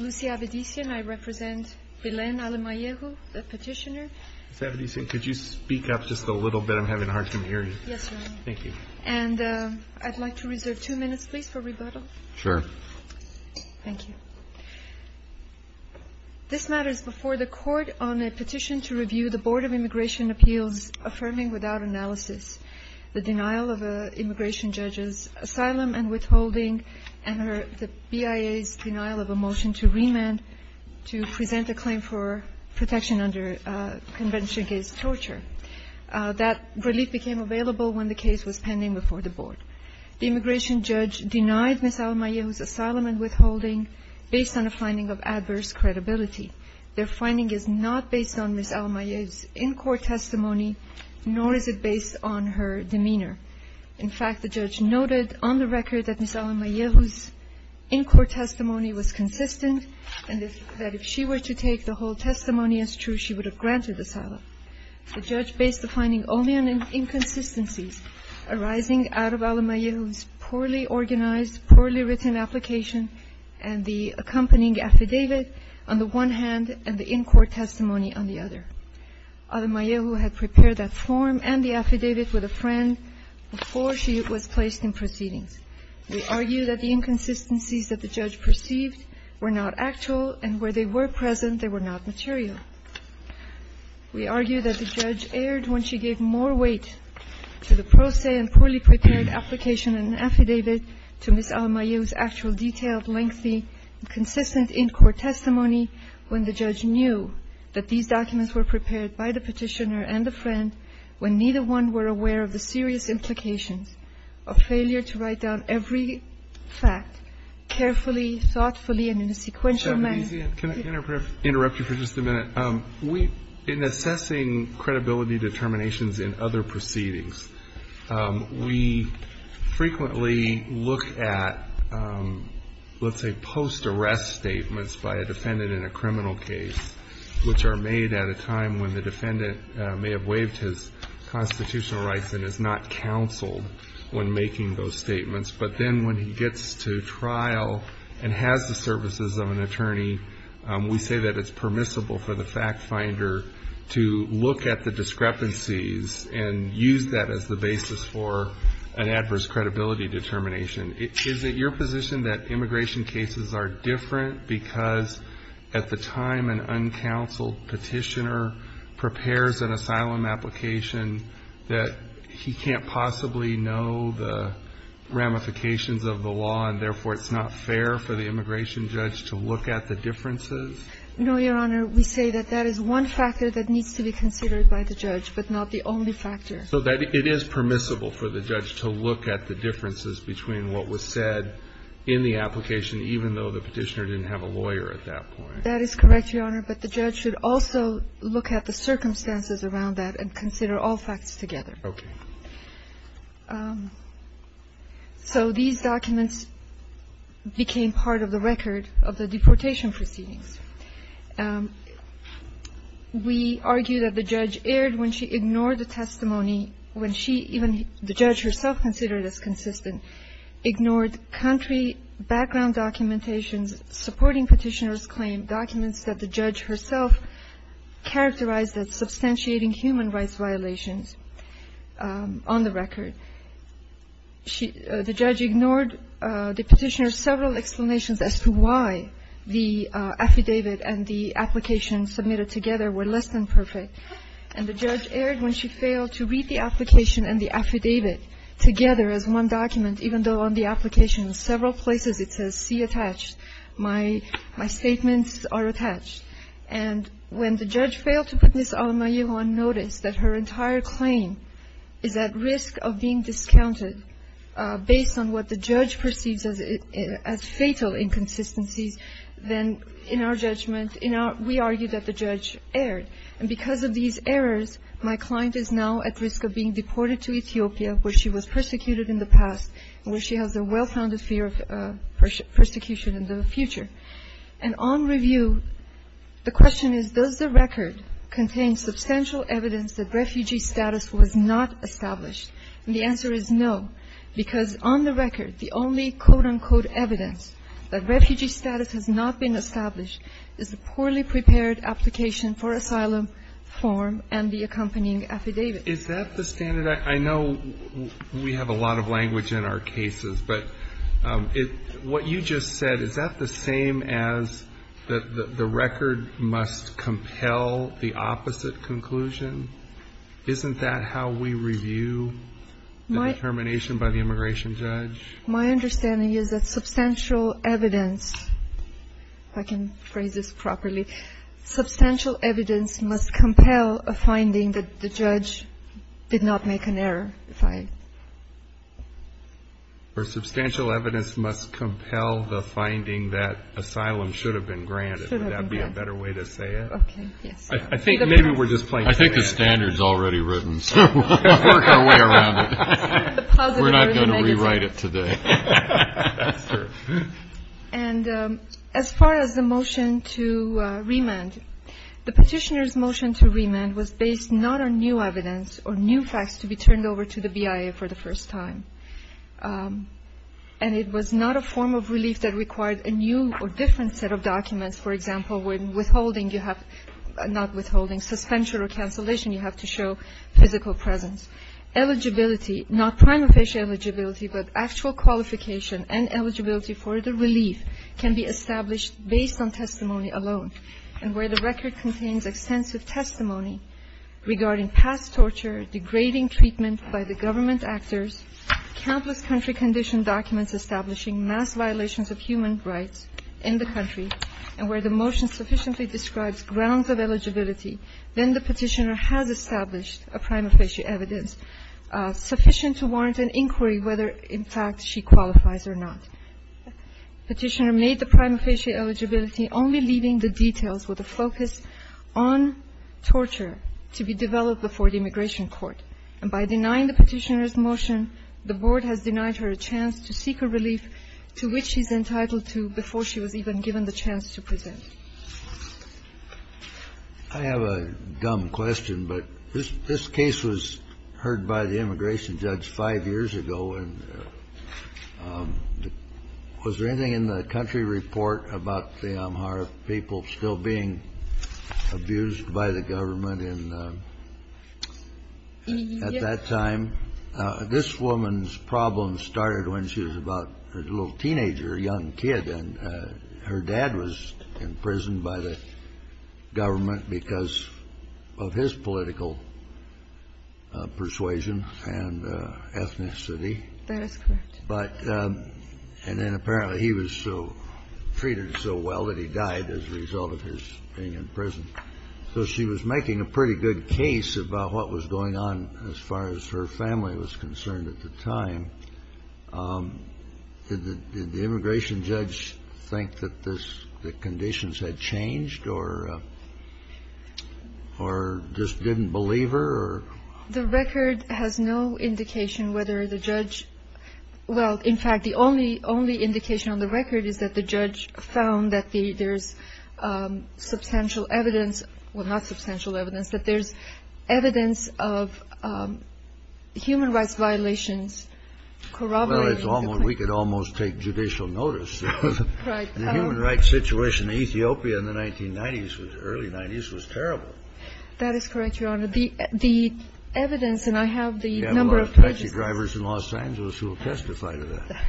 Lucy Avedisian. I represent Bilen Alemayehu, the petitioner. Mr. Avedisian, could you speak up just a little bit? I'm having a hard time hearing you. Yes, Your Honor. Thank you. I'd like to reserve two minutes, please, for rebuttal. Sure. Thank you. This matter is before the Court on a petition to review the Board of Immigration Appeals' affirming without analysis the denial of an immigration judge's asylum and withholding and the BIA's denial of a motion to remand to present a claim for protection under Convention Against Torture. That relief became available when the case was pending before the Board. The immigration judge denied Ms. Alemayehu's asylum and withholding based on a finding of adverse credibility. Their finding is not based on Ms. Alemayehu's in-court testimony, nor is it based on her demeanor. In fact, the judge noted on the record that Ms. Alemayehu's in-court testimony was consistent and that if she were to take the whole testimony as true, she would have granted asylum. The judge based the finding only on inconsistencies arising out of Alemayehu's poorly organized, poorly written application and the accompanying affidavit on the one hand and the in-court testimony on the other. Alemayehu had prepared that form and the affidavit with a friend before she was placed in proceedings. We argue that the inconsistencies that the judge perceived were not actual, and where they were present, they were not material. We argue that the judge erred when she gave more weight to the pro se and poorly prepared application and affidavit to Ms. Alemayehu's lengthy and consistent in-court testimony when the judge knew that these documents were prepared by the petitioner and the friend, when neither one were aware of the serious implications of failure to write down every fact carefully, thoughtfully, and in a sequential manner. Can I interrupt you for just a minute? In assessing credibility determinations in other proceedings, we frequently look at, let's say, post-arrest statements by a defendant in a criminal case, which are made at a time when the defendant may have waived his constitutional rights and is not counseled when making those statements. But then when he gets to trial and has the services of an attorney, we say that it's permissible for the fact finder to look at the discrepancies and use that as the basis for an adverse credibility determination. Is it your position that immigration cases are different because at the time an uncounseled petitioner prepares an asylum application, that he can't possibly know the ramifications of the law, and therefore it's not fair for the immigration judge to look at the differences? No, Your Honor. We say that that is one factor that needs to be considered by the judge, but not the only factor. So that it is permissible for the judge to look at the differences between what was said in the application, even though the petitioner didn't have a lawyer at that point. That is correct, Your Honor. But the judge should also look at the circumstances around that and consider all facts together. Okay. So these documents became part of the record of the deportation proceedings. We argue that the judge erred when she ignored the testimony, when she even the judge herself considered it as consistent, ignored country background documentations supporting petitioner's claim, documents that the judge herself characterized as substantiating human rights violations on the record. The judge ignored the petitioner's several explanations as to why the affidavit and the application submitted together were less than perfect. And the judge erred when she failed to read the application and the affidavit together as one document, even though on the application in several places it says, see attached, my statements are attached. And when the judge failed to put Ms. Almayehu on notice that her entire claim is at risk of being discounted based on what the judge perceives as fatal inconsistencies, then in our judgment, we argue that the judge erred. And because of these errors, my client is now at risk of being deported to Ethiopia where she was persecuted in the past and where she has a well-founded fear of persecution in the future. And on review, the question is, does the record contain substantial evidence that refugee status was not established? And the answer is no, because on the record, the only quote, unquote, evidence that refugee status has not been established is the poorly prepared application for asylum form and the accompanying affidavit. Is that the standard? I know we have a lot of language in our cases, but what you just said, is that the same as the record must compel the opposite conclusion? Isn't that how we review the determination by the immigration judge? My understanding is that substantial evidence, if I can phrase this properly, substantial evidence must compel a finding that the judge did not make an error. Or substantial evidence must compel the finding that asylum should have been granted. Would that be a better way to say it? I think maybe we're just playing. I think the standard is already written, so we'll work our way around it. We're not going to rewrite it today. And as far as the motion to remand, the petitioner's motion to remand was based not on new evidence or new facts to be turned over to the BIA for the first time. And it was not a form of relief that required a new or different set of documents. For example, when withholding you have, not withholding, suspension or cancellation, you have to show physical presence. Eligibility, not prime official eligibility, but actual qualification and eligibility for the relief can be established based on testimony alone. And where the record contains extensive testimony regarding past torture, degrading treatment by the government actors, countless country condition documents establishing mass violations of human rights in the country, and where the motion sufficiently describes grounds of eligibility, then the petitioner has established a prima facie evidence sufficient to warrant an inquiry whether, in fact, she qualifies or not. The petitioner made the prima facie eligibility only leaving the details with a focus on torture to be developed before the immigration court. And by denying the petitioner's motion, the Board has denied her a chance to seek a relief to which she's entitled to before she was even given the chance to present. I have a dumb question, but this case was heard by the immigration judge five years ago, and was there anything in the country report about the Amhara people still being abused by the government in the at that time? This woman's problems started when she was about a little teenager, a young kid, and her dad was imprisoned by the government because of his political persuasion and ethnicity. That is correct. But then apparently he was treated so well that he died as a result of his being in prison. So she was making a pretty good case about what was going on as far as her family was concerned at the time. Did the immigration judge think that the conditions had changed or just didn't believe her? The record has no indication whether the judge – well, in fact, the only indication on the record is that the judge found that there's substantial evidence – well, not substantial evidence – that there's evidence of human rights violations corroborating the claim. Well, we could almost take judicial notice. Right. The human rights situation in Ethiopia in the 1990s, early 90s, was terrible. That is correct, Your Honor. The evidence – and I have the number of pages. You have a lot of taxi drivers in Los Angeles who will testify to that.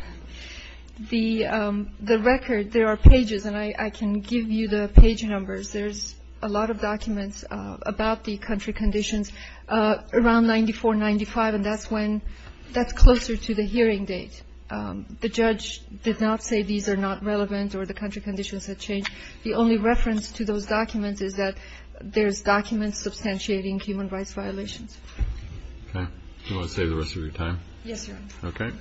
The record – there are pages, and I can give you the page numbers. There's a lot of documents about the country conditions around 94, 95, and that's when – that's closer to the hearing date. The judge did not say these are not relevant or the country conditions had changed. The only reference to those documents is that there's documents substantiating human rights violations. Okay. Do you want to save the rest of your time? Yes, Your Honor. Okay.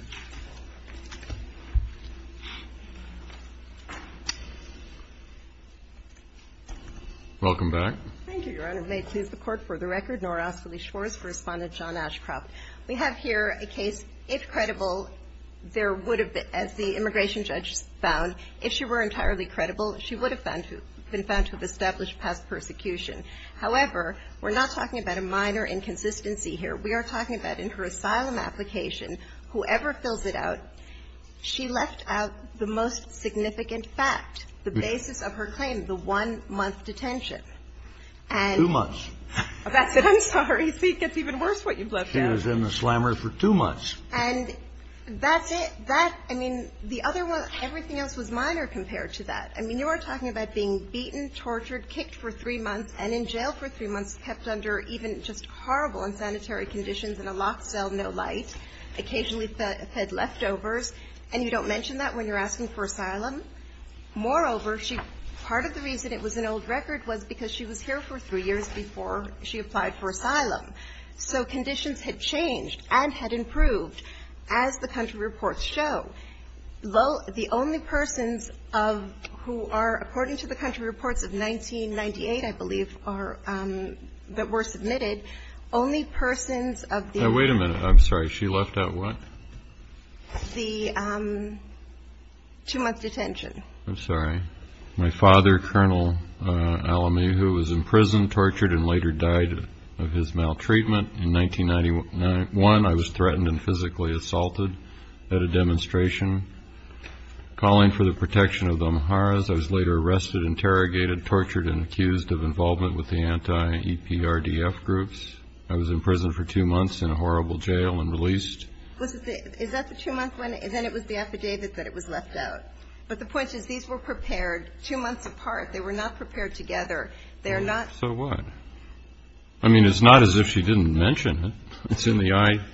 Welcome back. Thank you, Your Honor. May it please the Court, for the record, nor ask Felice Schwartz to respond to John Ashcroft. We have here a case. If credible, there would have been – as the immigration judge found, if she were entirely credible, she would have found to – been found to have established past persecution. However, we're not talking about a minor inconsistency here. We are talking about in her asylum application, whoever fills it out, she left out the most significant fact, the basis of her claim, the one-month detention. And – Two months. That's it. I'm sorry. See, it gets even worse what you've left out. She was in the slammer for two months. And that's it. And that – I mean, the other one – everything else was minor compared to that. I mean, you are talking about being beaten, tortured, kicked for three months, and in jail for three months, kept under even just horrible and sanitary conditions in a locked cell, no light, occasionally fed leftovers. And you don't mention that when you're asking for asylum. Moreover, she – part of the reason it was an old record was because she was here for three years before she applied for asylum. So conditions had changed and had improved, as the country reports show. The only persons of – who are, according to the country reports of 1998, I believe, are – that were submitted, only persons of the – Wait a minute. I'm sorry. She left out what? The two-month detention. I'm sorry. My father, Colonel Alamehu, was in prison, tortured, and later died of his maltreatment. In 1991, I was threatened and physically assaulted at a demonstration. Calling for the protection of the Amharas, I was later arrested, interrogated, tortured, and accused of involvement with the anti-EPRDF groups. I was in prison for two months in a horrible jail and released. Is that the two-month one? Then it was the affidavit that it was left out. But the point is, these were prepared two months apart. They were not prepared together. They're not – So what? I mean, it's not as if she didn't mention it. It's in the I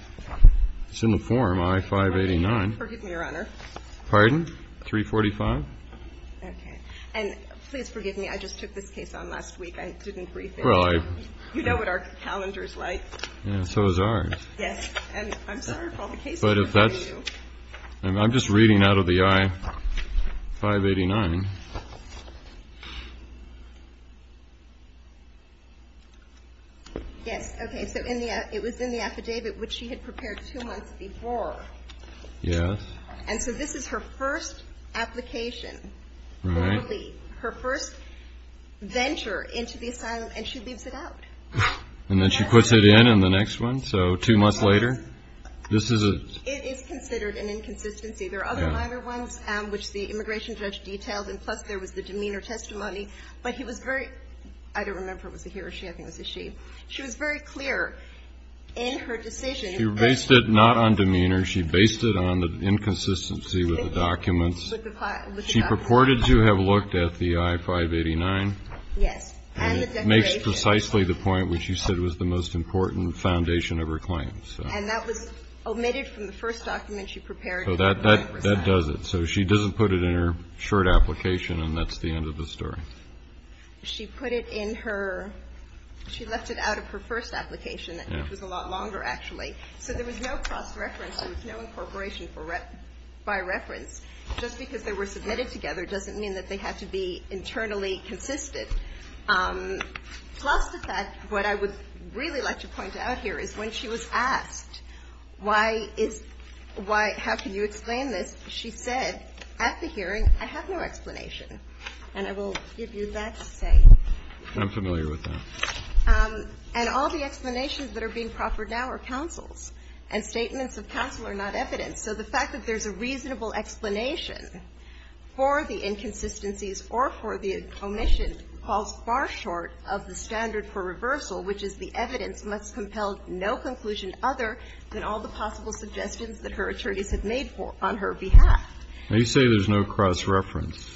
– it's in the form, I-589. Pardon me, Your Honor. Pardon? 345? Okay. And please forgive me. I just took this case on last week. I didn't brief it. Well, I – You know what our calendar is like. Yeah, so is ours. Yes. And I'm sorry for all the cases before you. But if that's – I'm just reading out of the I-589. Yes, okay. So in the – it was in the affidavit, which she had prepared two months before. Yes. And so this is her first application. Right. Her first venture into the asylum, and she leaves it out. And then she puts it in on the next one, so two months later. This is a – It is considered an inconsistency. There are other minor ones which the immigration judge detailed, and plus there was the demeanor testimony. But he was very – I don't remember if it was a he or she. I think it was a she. She was very clear in her decision. She based it not on demeanor. She based it on the inconsistency with the documents. With the documents. She purported to have looked at the I-589. Yes. And the declaration. And it makes precisely the point which you said was the most important foundation of her claims. And that was omitted from the first document she prepared. So that does it. So she doesn't put it in her short application, and that's the end of the story. She put it in her – she left it out of her first application, which was a lot longer, actually. So there was no cross-reference. There was no incorporation by reference. Just because they were submitted together doesn't mean that they had to be internally consistent. Plus the fact – what I would really like to point out here is when she was asked why is – how can you explain this, she said at the hearing, I have no explanation. And I will give you that statement. I'm familiar with that. And all the explanations that are being proffered now are counsel's. And statements of counsel are not evidence. So the fact that there's a reasonable explanation for the inconsistencies or for the omission falls far short of the standard for reversal, which is the evidence must compel no conclusion other than all the possible suggestions that her attorneys have made for – on her behalf. Now, you say there's no cross-reference.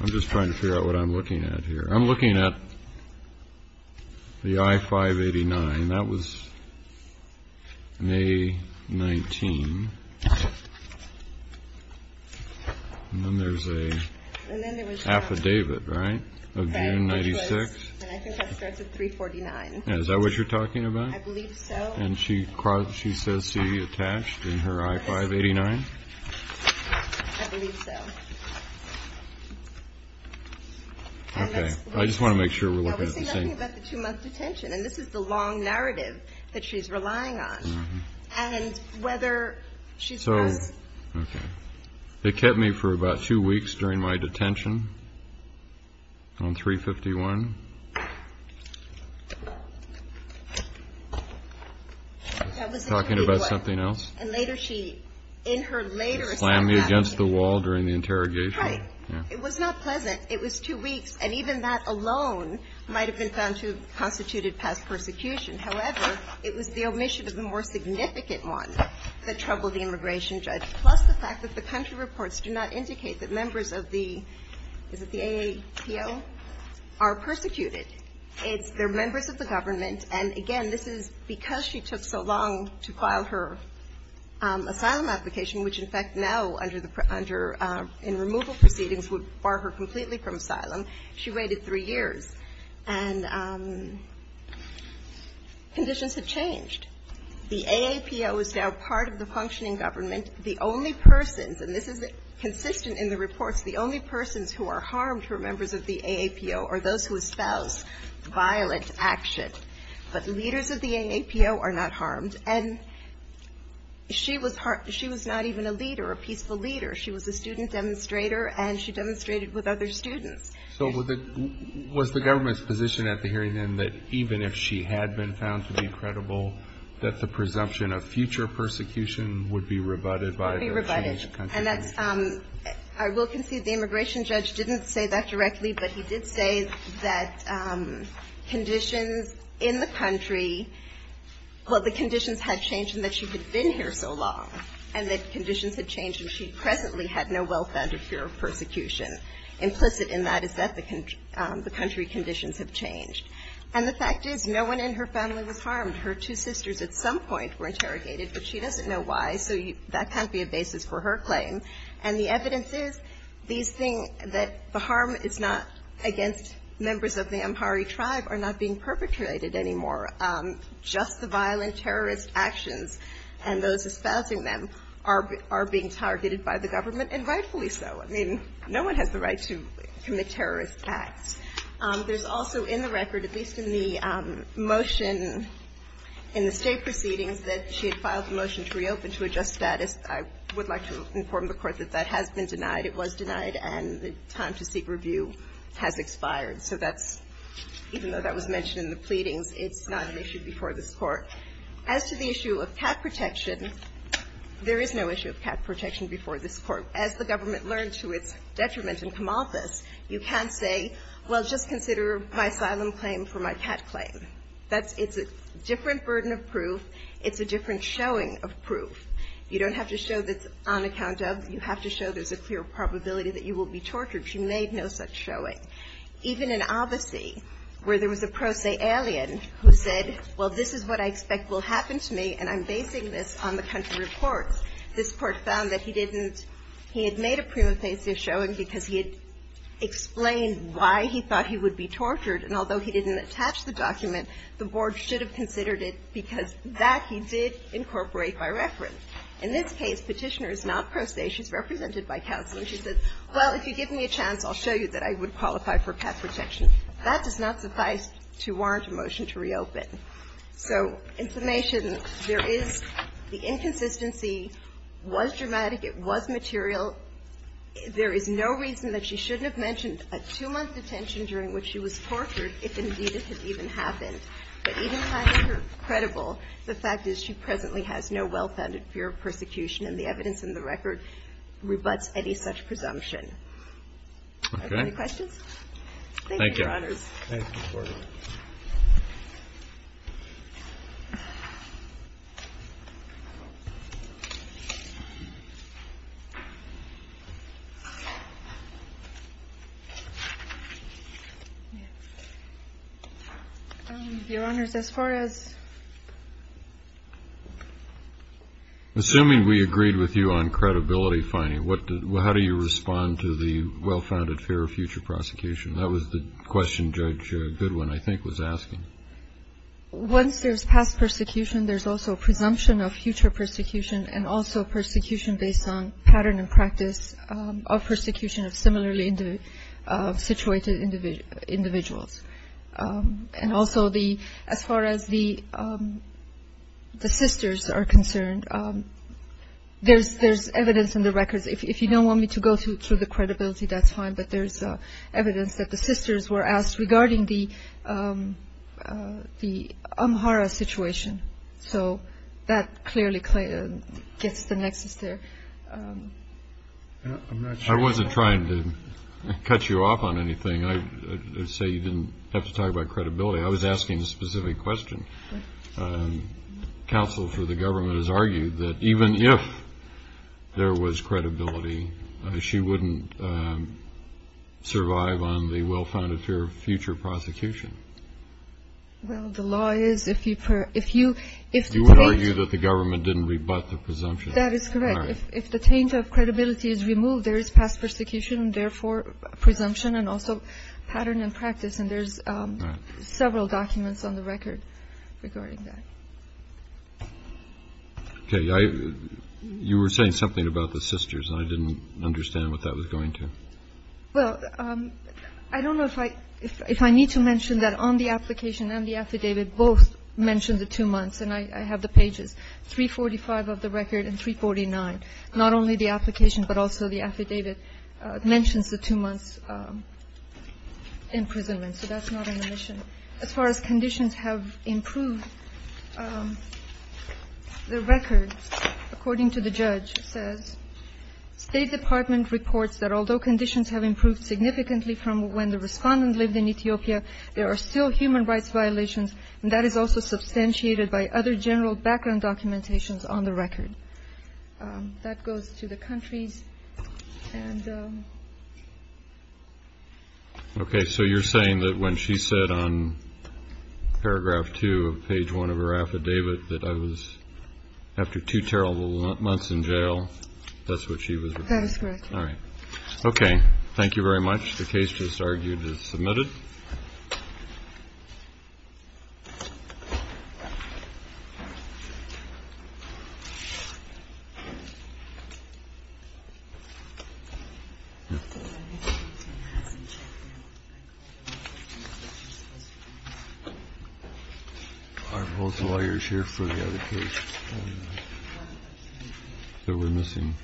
I'm just trying to figure out what I'm looking at here. I'm looking at the I-589. And that was May 19. And then there's an affidavit, right, of June 96? And I think that starts at 349. And is that what you're talking about? I believe so. And she says she attached in her I-589? I believe so. I just want to make sure we're looking at the same thing. She's talking about the two-month detention. And this is the long narrative that she's relying on. And whether she's – So, okay. They kept me for about two weeks during my detention on 351. That was in 3-1. Talking about something else? And later she, in her later – Slammed me against the wall during the interrogation. Right. It was not pleasant. It was two weeks. And even that alone might have been found to have constituted past persecution. However, it was the omission of the more significant one that troubled the immigration judge, plus the fact that the country reports do not indicate that members of the – is it the AAPL? – are persecuted. It's their members of the government. And, again, this is because she took so long to file her asylum application, which, in fact, now under the – in removal proceedings would bar her completely from asylum. She waited three years. And conditions have changed. The AAPL is now part of the functioning government. The only persons – and this is consistent in the reports – the only persons who are harmed who are members of the AAPL are those who espouse violent action. But leaders of the AAPL are not harmed. And she was not even a leader, a peaceful leader. She was a student demonstrator, and she demonstrated with other students. So was the government's position at the hearing, then, that even if she had been found to be credible, that the presumption of future persecution would be rebutted by the regime of the country? It would be rebutted. And that's – I will concede the immigration judge didn't say that directly, but he did say that conditions in the country – well, the conditions had changed and that she had been here so long, and that conditions had changed and she presently had no wealth under fear of persecution. Implicit in that is that the country conditions have changed. And the fact is no one in her family was harmed. Her two sisters at some point were interrogated, but she doesn't know why, so that can't be a basis for her claim. And the evidence is these things that the harm is not against members of the Amhari tribe are not being perpetrated anymore. Just the violent terrorist actions and those espousing them are being targeted by the government, and rightfully so. I mean, no one has the right to commit terrorist acts. There's also in the record, at least in the motion in the state proceedings, that she had filed a motion to reopen to a just status. I would like to inform the Court that that has been denied, it was denied, and the time to seek review has expired. So that's – even though that was mentioned in the pleadings, it's not an issue before this Court. As to the issue of cat protection, there is no issue of cat protection before this Court. As the government learned to its detriment in Kamalthus, you can't say, well, just consider my asylum claim for my cat claim. That's – it's a different burden of proof. It's a different showing of proof. You don't have to show that it's on account of. You have to show there's a clear probability that you will be tortured. She made no such showing. Even in Abassi, where there was a pro se alien who said, well, this is what I expect will happen to me, and I'm basing this on the country report, this Court found that he didn't – he had made a prima facie showing because he had explained why he thought he would be tortured, and although he didn't attach the document, the Board should have considered it because that he did incorporate by reference. In this case, Petitioner is not pro se. She's represented by counsel, and she says, well, if you give me a chance, I'll show you that I would qualify for cat protection. That does not suffice to warrant a motion to reopen. So in summation, there is the inconsistency was dramatic. It was material. There is no reason that she shouldn't have mentioned a two-month detention during which she was tortured, if indeed it had even happened. But even having her credible, the fact is she presently has no well-founded fear of persecution, and the evidence in the record rebuts any such presumption. Do I have any questions? Thank you, Your Honors. Your Honors, as far as – Assuming we agreed with you on credibility finding, how do you respond to the well-founded fear of future prosecution? That was the question Judge Goodwin, I think, was asking. Once there's past persecution, there's also a presumption of future persecution and also persecution based on pattern and practice of persecution of similarly situated individuals. And also, as far as the sisters are concerned, there's evidence in the records. If you don't want me to go through the credibility, that's fine. But there's evidence that the sisters were asked regarding the Amhara situation. So that clearly gets the nexus there. I wasn't trying to cut you off on anything. I'd say you didn't have to talk about credibility. I was asking a specific question. Counsel for the government has argued that even if there was credibility, she wouldn't survive on the well-founded fear of future prosecution. Well, the law is if you – You would argue that the government didn't rebut the presumption. That is correct. If the taint of credibility is removed, there is past persecution, therefore presumption and also pattern and practice. And there's several documents on the record regarding that. Okay. You were saying something about the sisters. I didn't understand what that was going to. Well, I don't know if I need to mention that on the application and the affidavit, both mentioned the two months. And I have the pages, 345 of the record and 349, not only the application but also the affidavit mentions the two months' imprisonment. So that's not on the mission. As far as conditions have improved, the record, according to the judge, says, State Department reports that although conditions have improved significantly from when the respondents lived in Ethiopia, there are still human rights violations, and that is also substantiated by other general background documentations on the record. That goes to the countries. Okay. So you're saying that when she said on paragraph 2 of page 1 of her affidavit that I was after two terrible months in jail, that's what she was referring to? That is correct. All right. Thank you very much. The case just argued is submitted. All right. I have both lawyers here for the other case. So we're missing.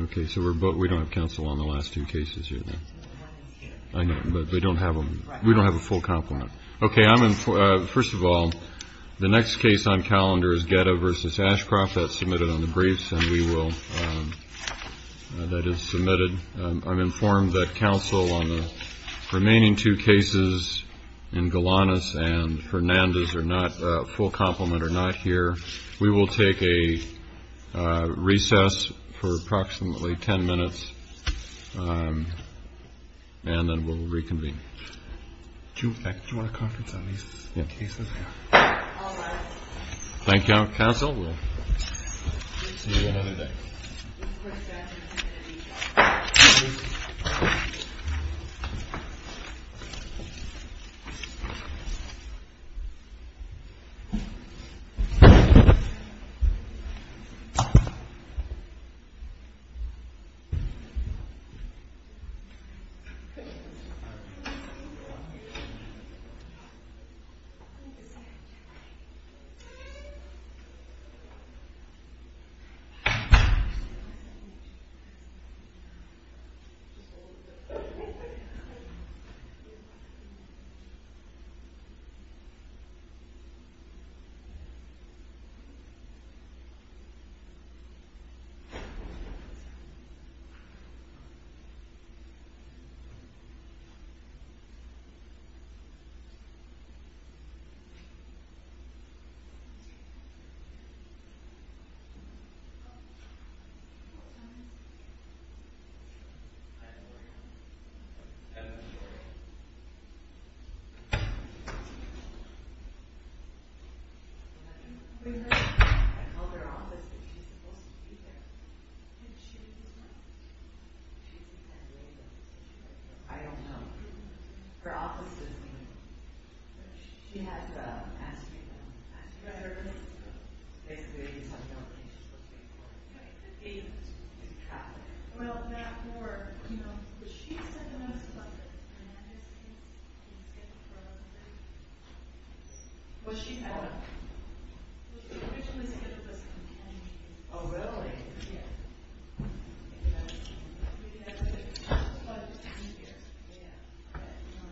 Okay. So we don't have counsel on the last two cases here, then. I know, but we don't have a full complement. Okay. First of all, the next case on calendar is Geta v. Ashcroft. That's submitted on the briefs, and we will – that is submitted. I'm informed that counsel on the remaining two cases in Galanis and Fernandez are not – a full complement are not here. We will take a recess for approximately 10 minutes, and then we'll reconvene. Do you want a conference on these cases? Yeah. All right. Thank you, counsel. We'll see you another day. Thank you.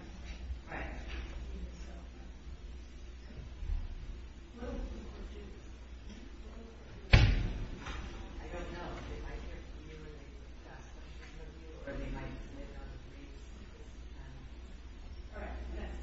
Okay. Thank you. All right. I don't know. They might hear from you, and they could ask questions of you, or they might submit it on the briefs. All right. Thanks. Thank you.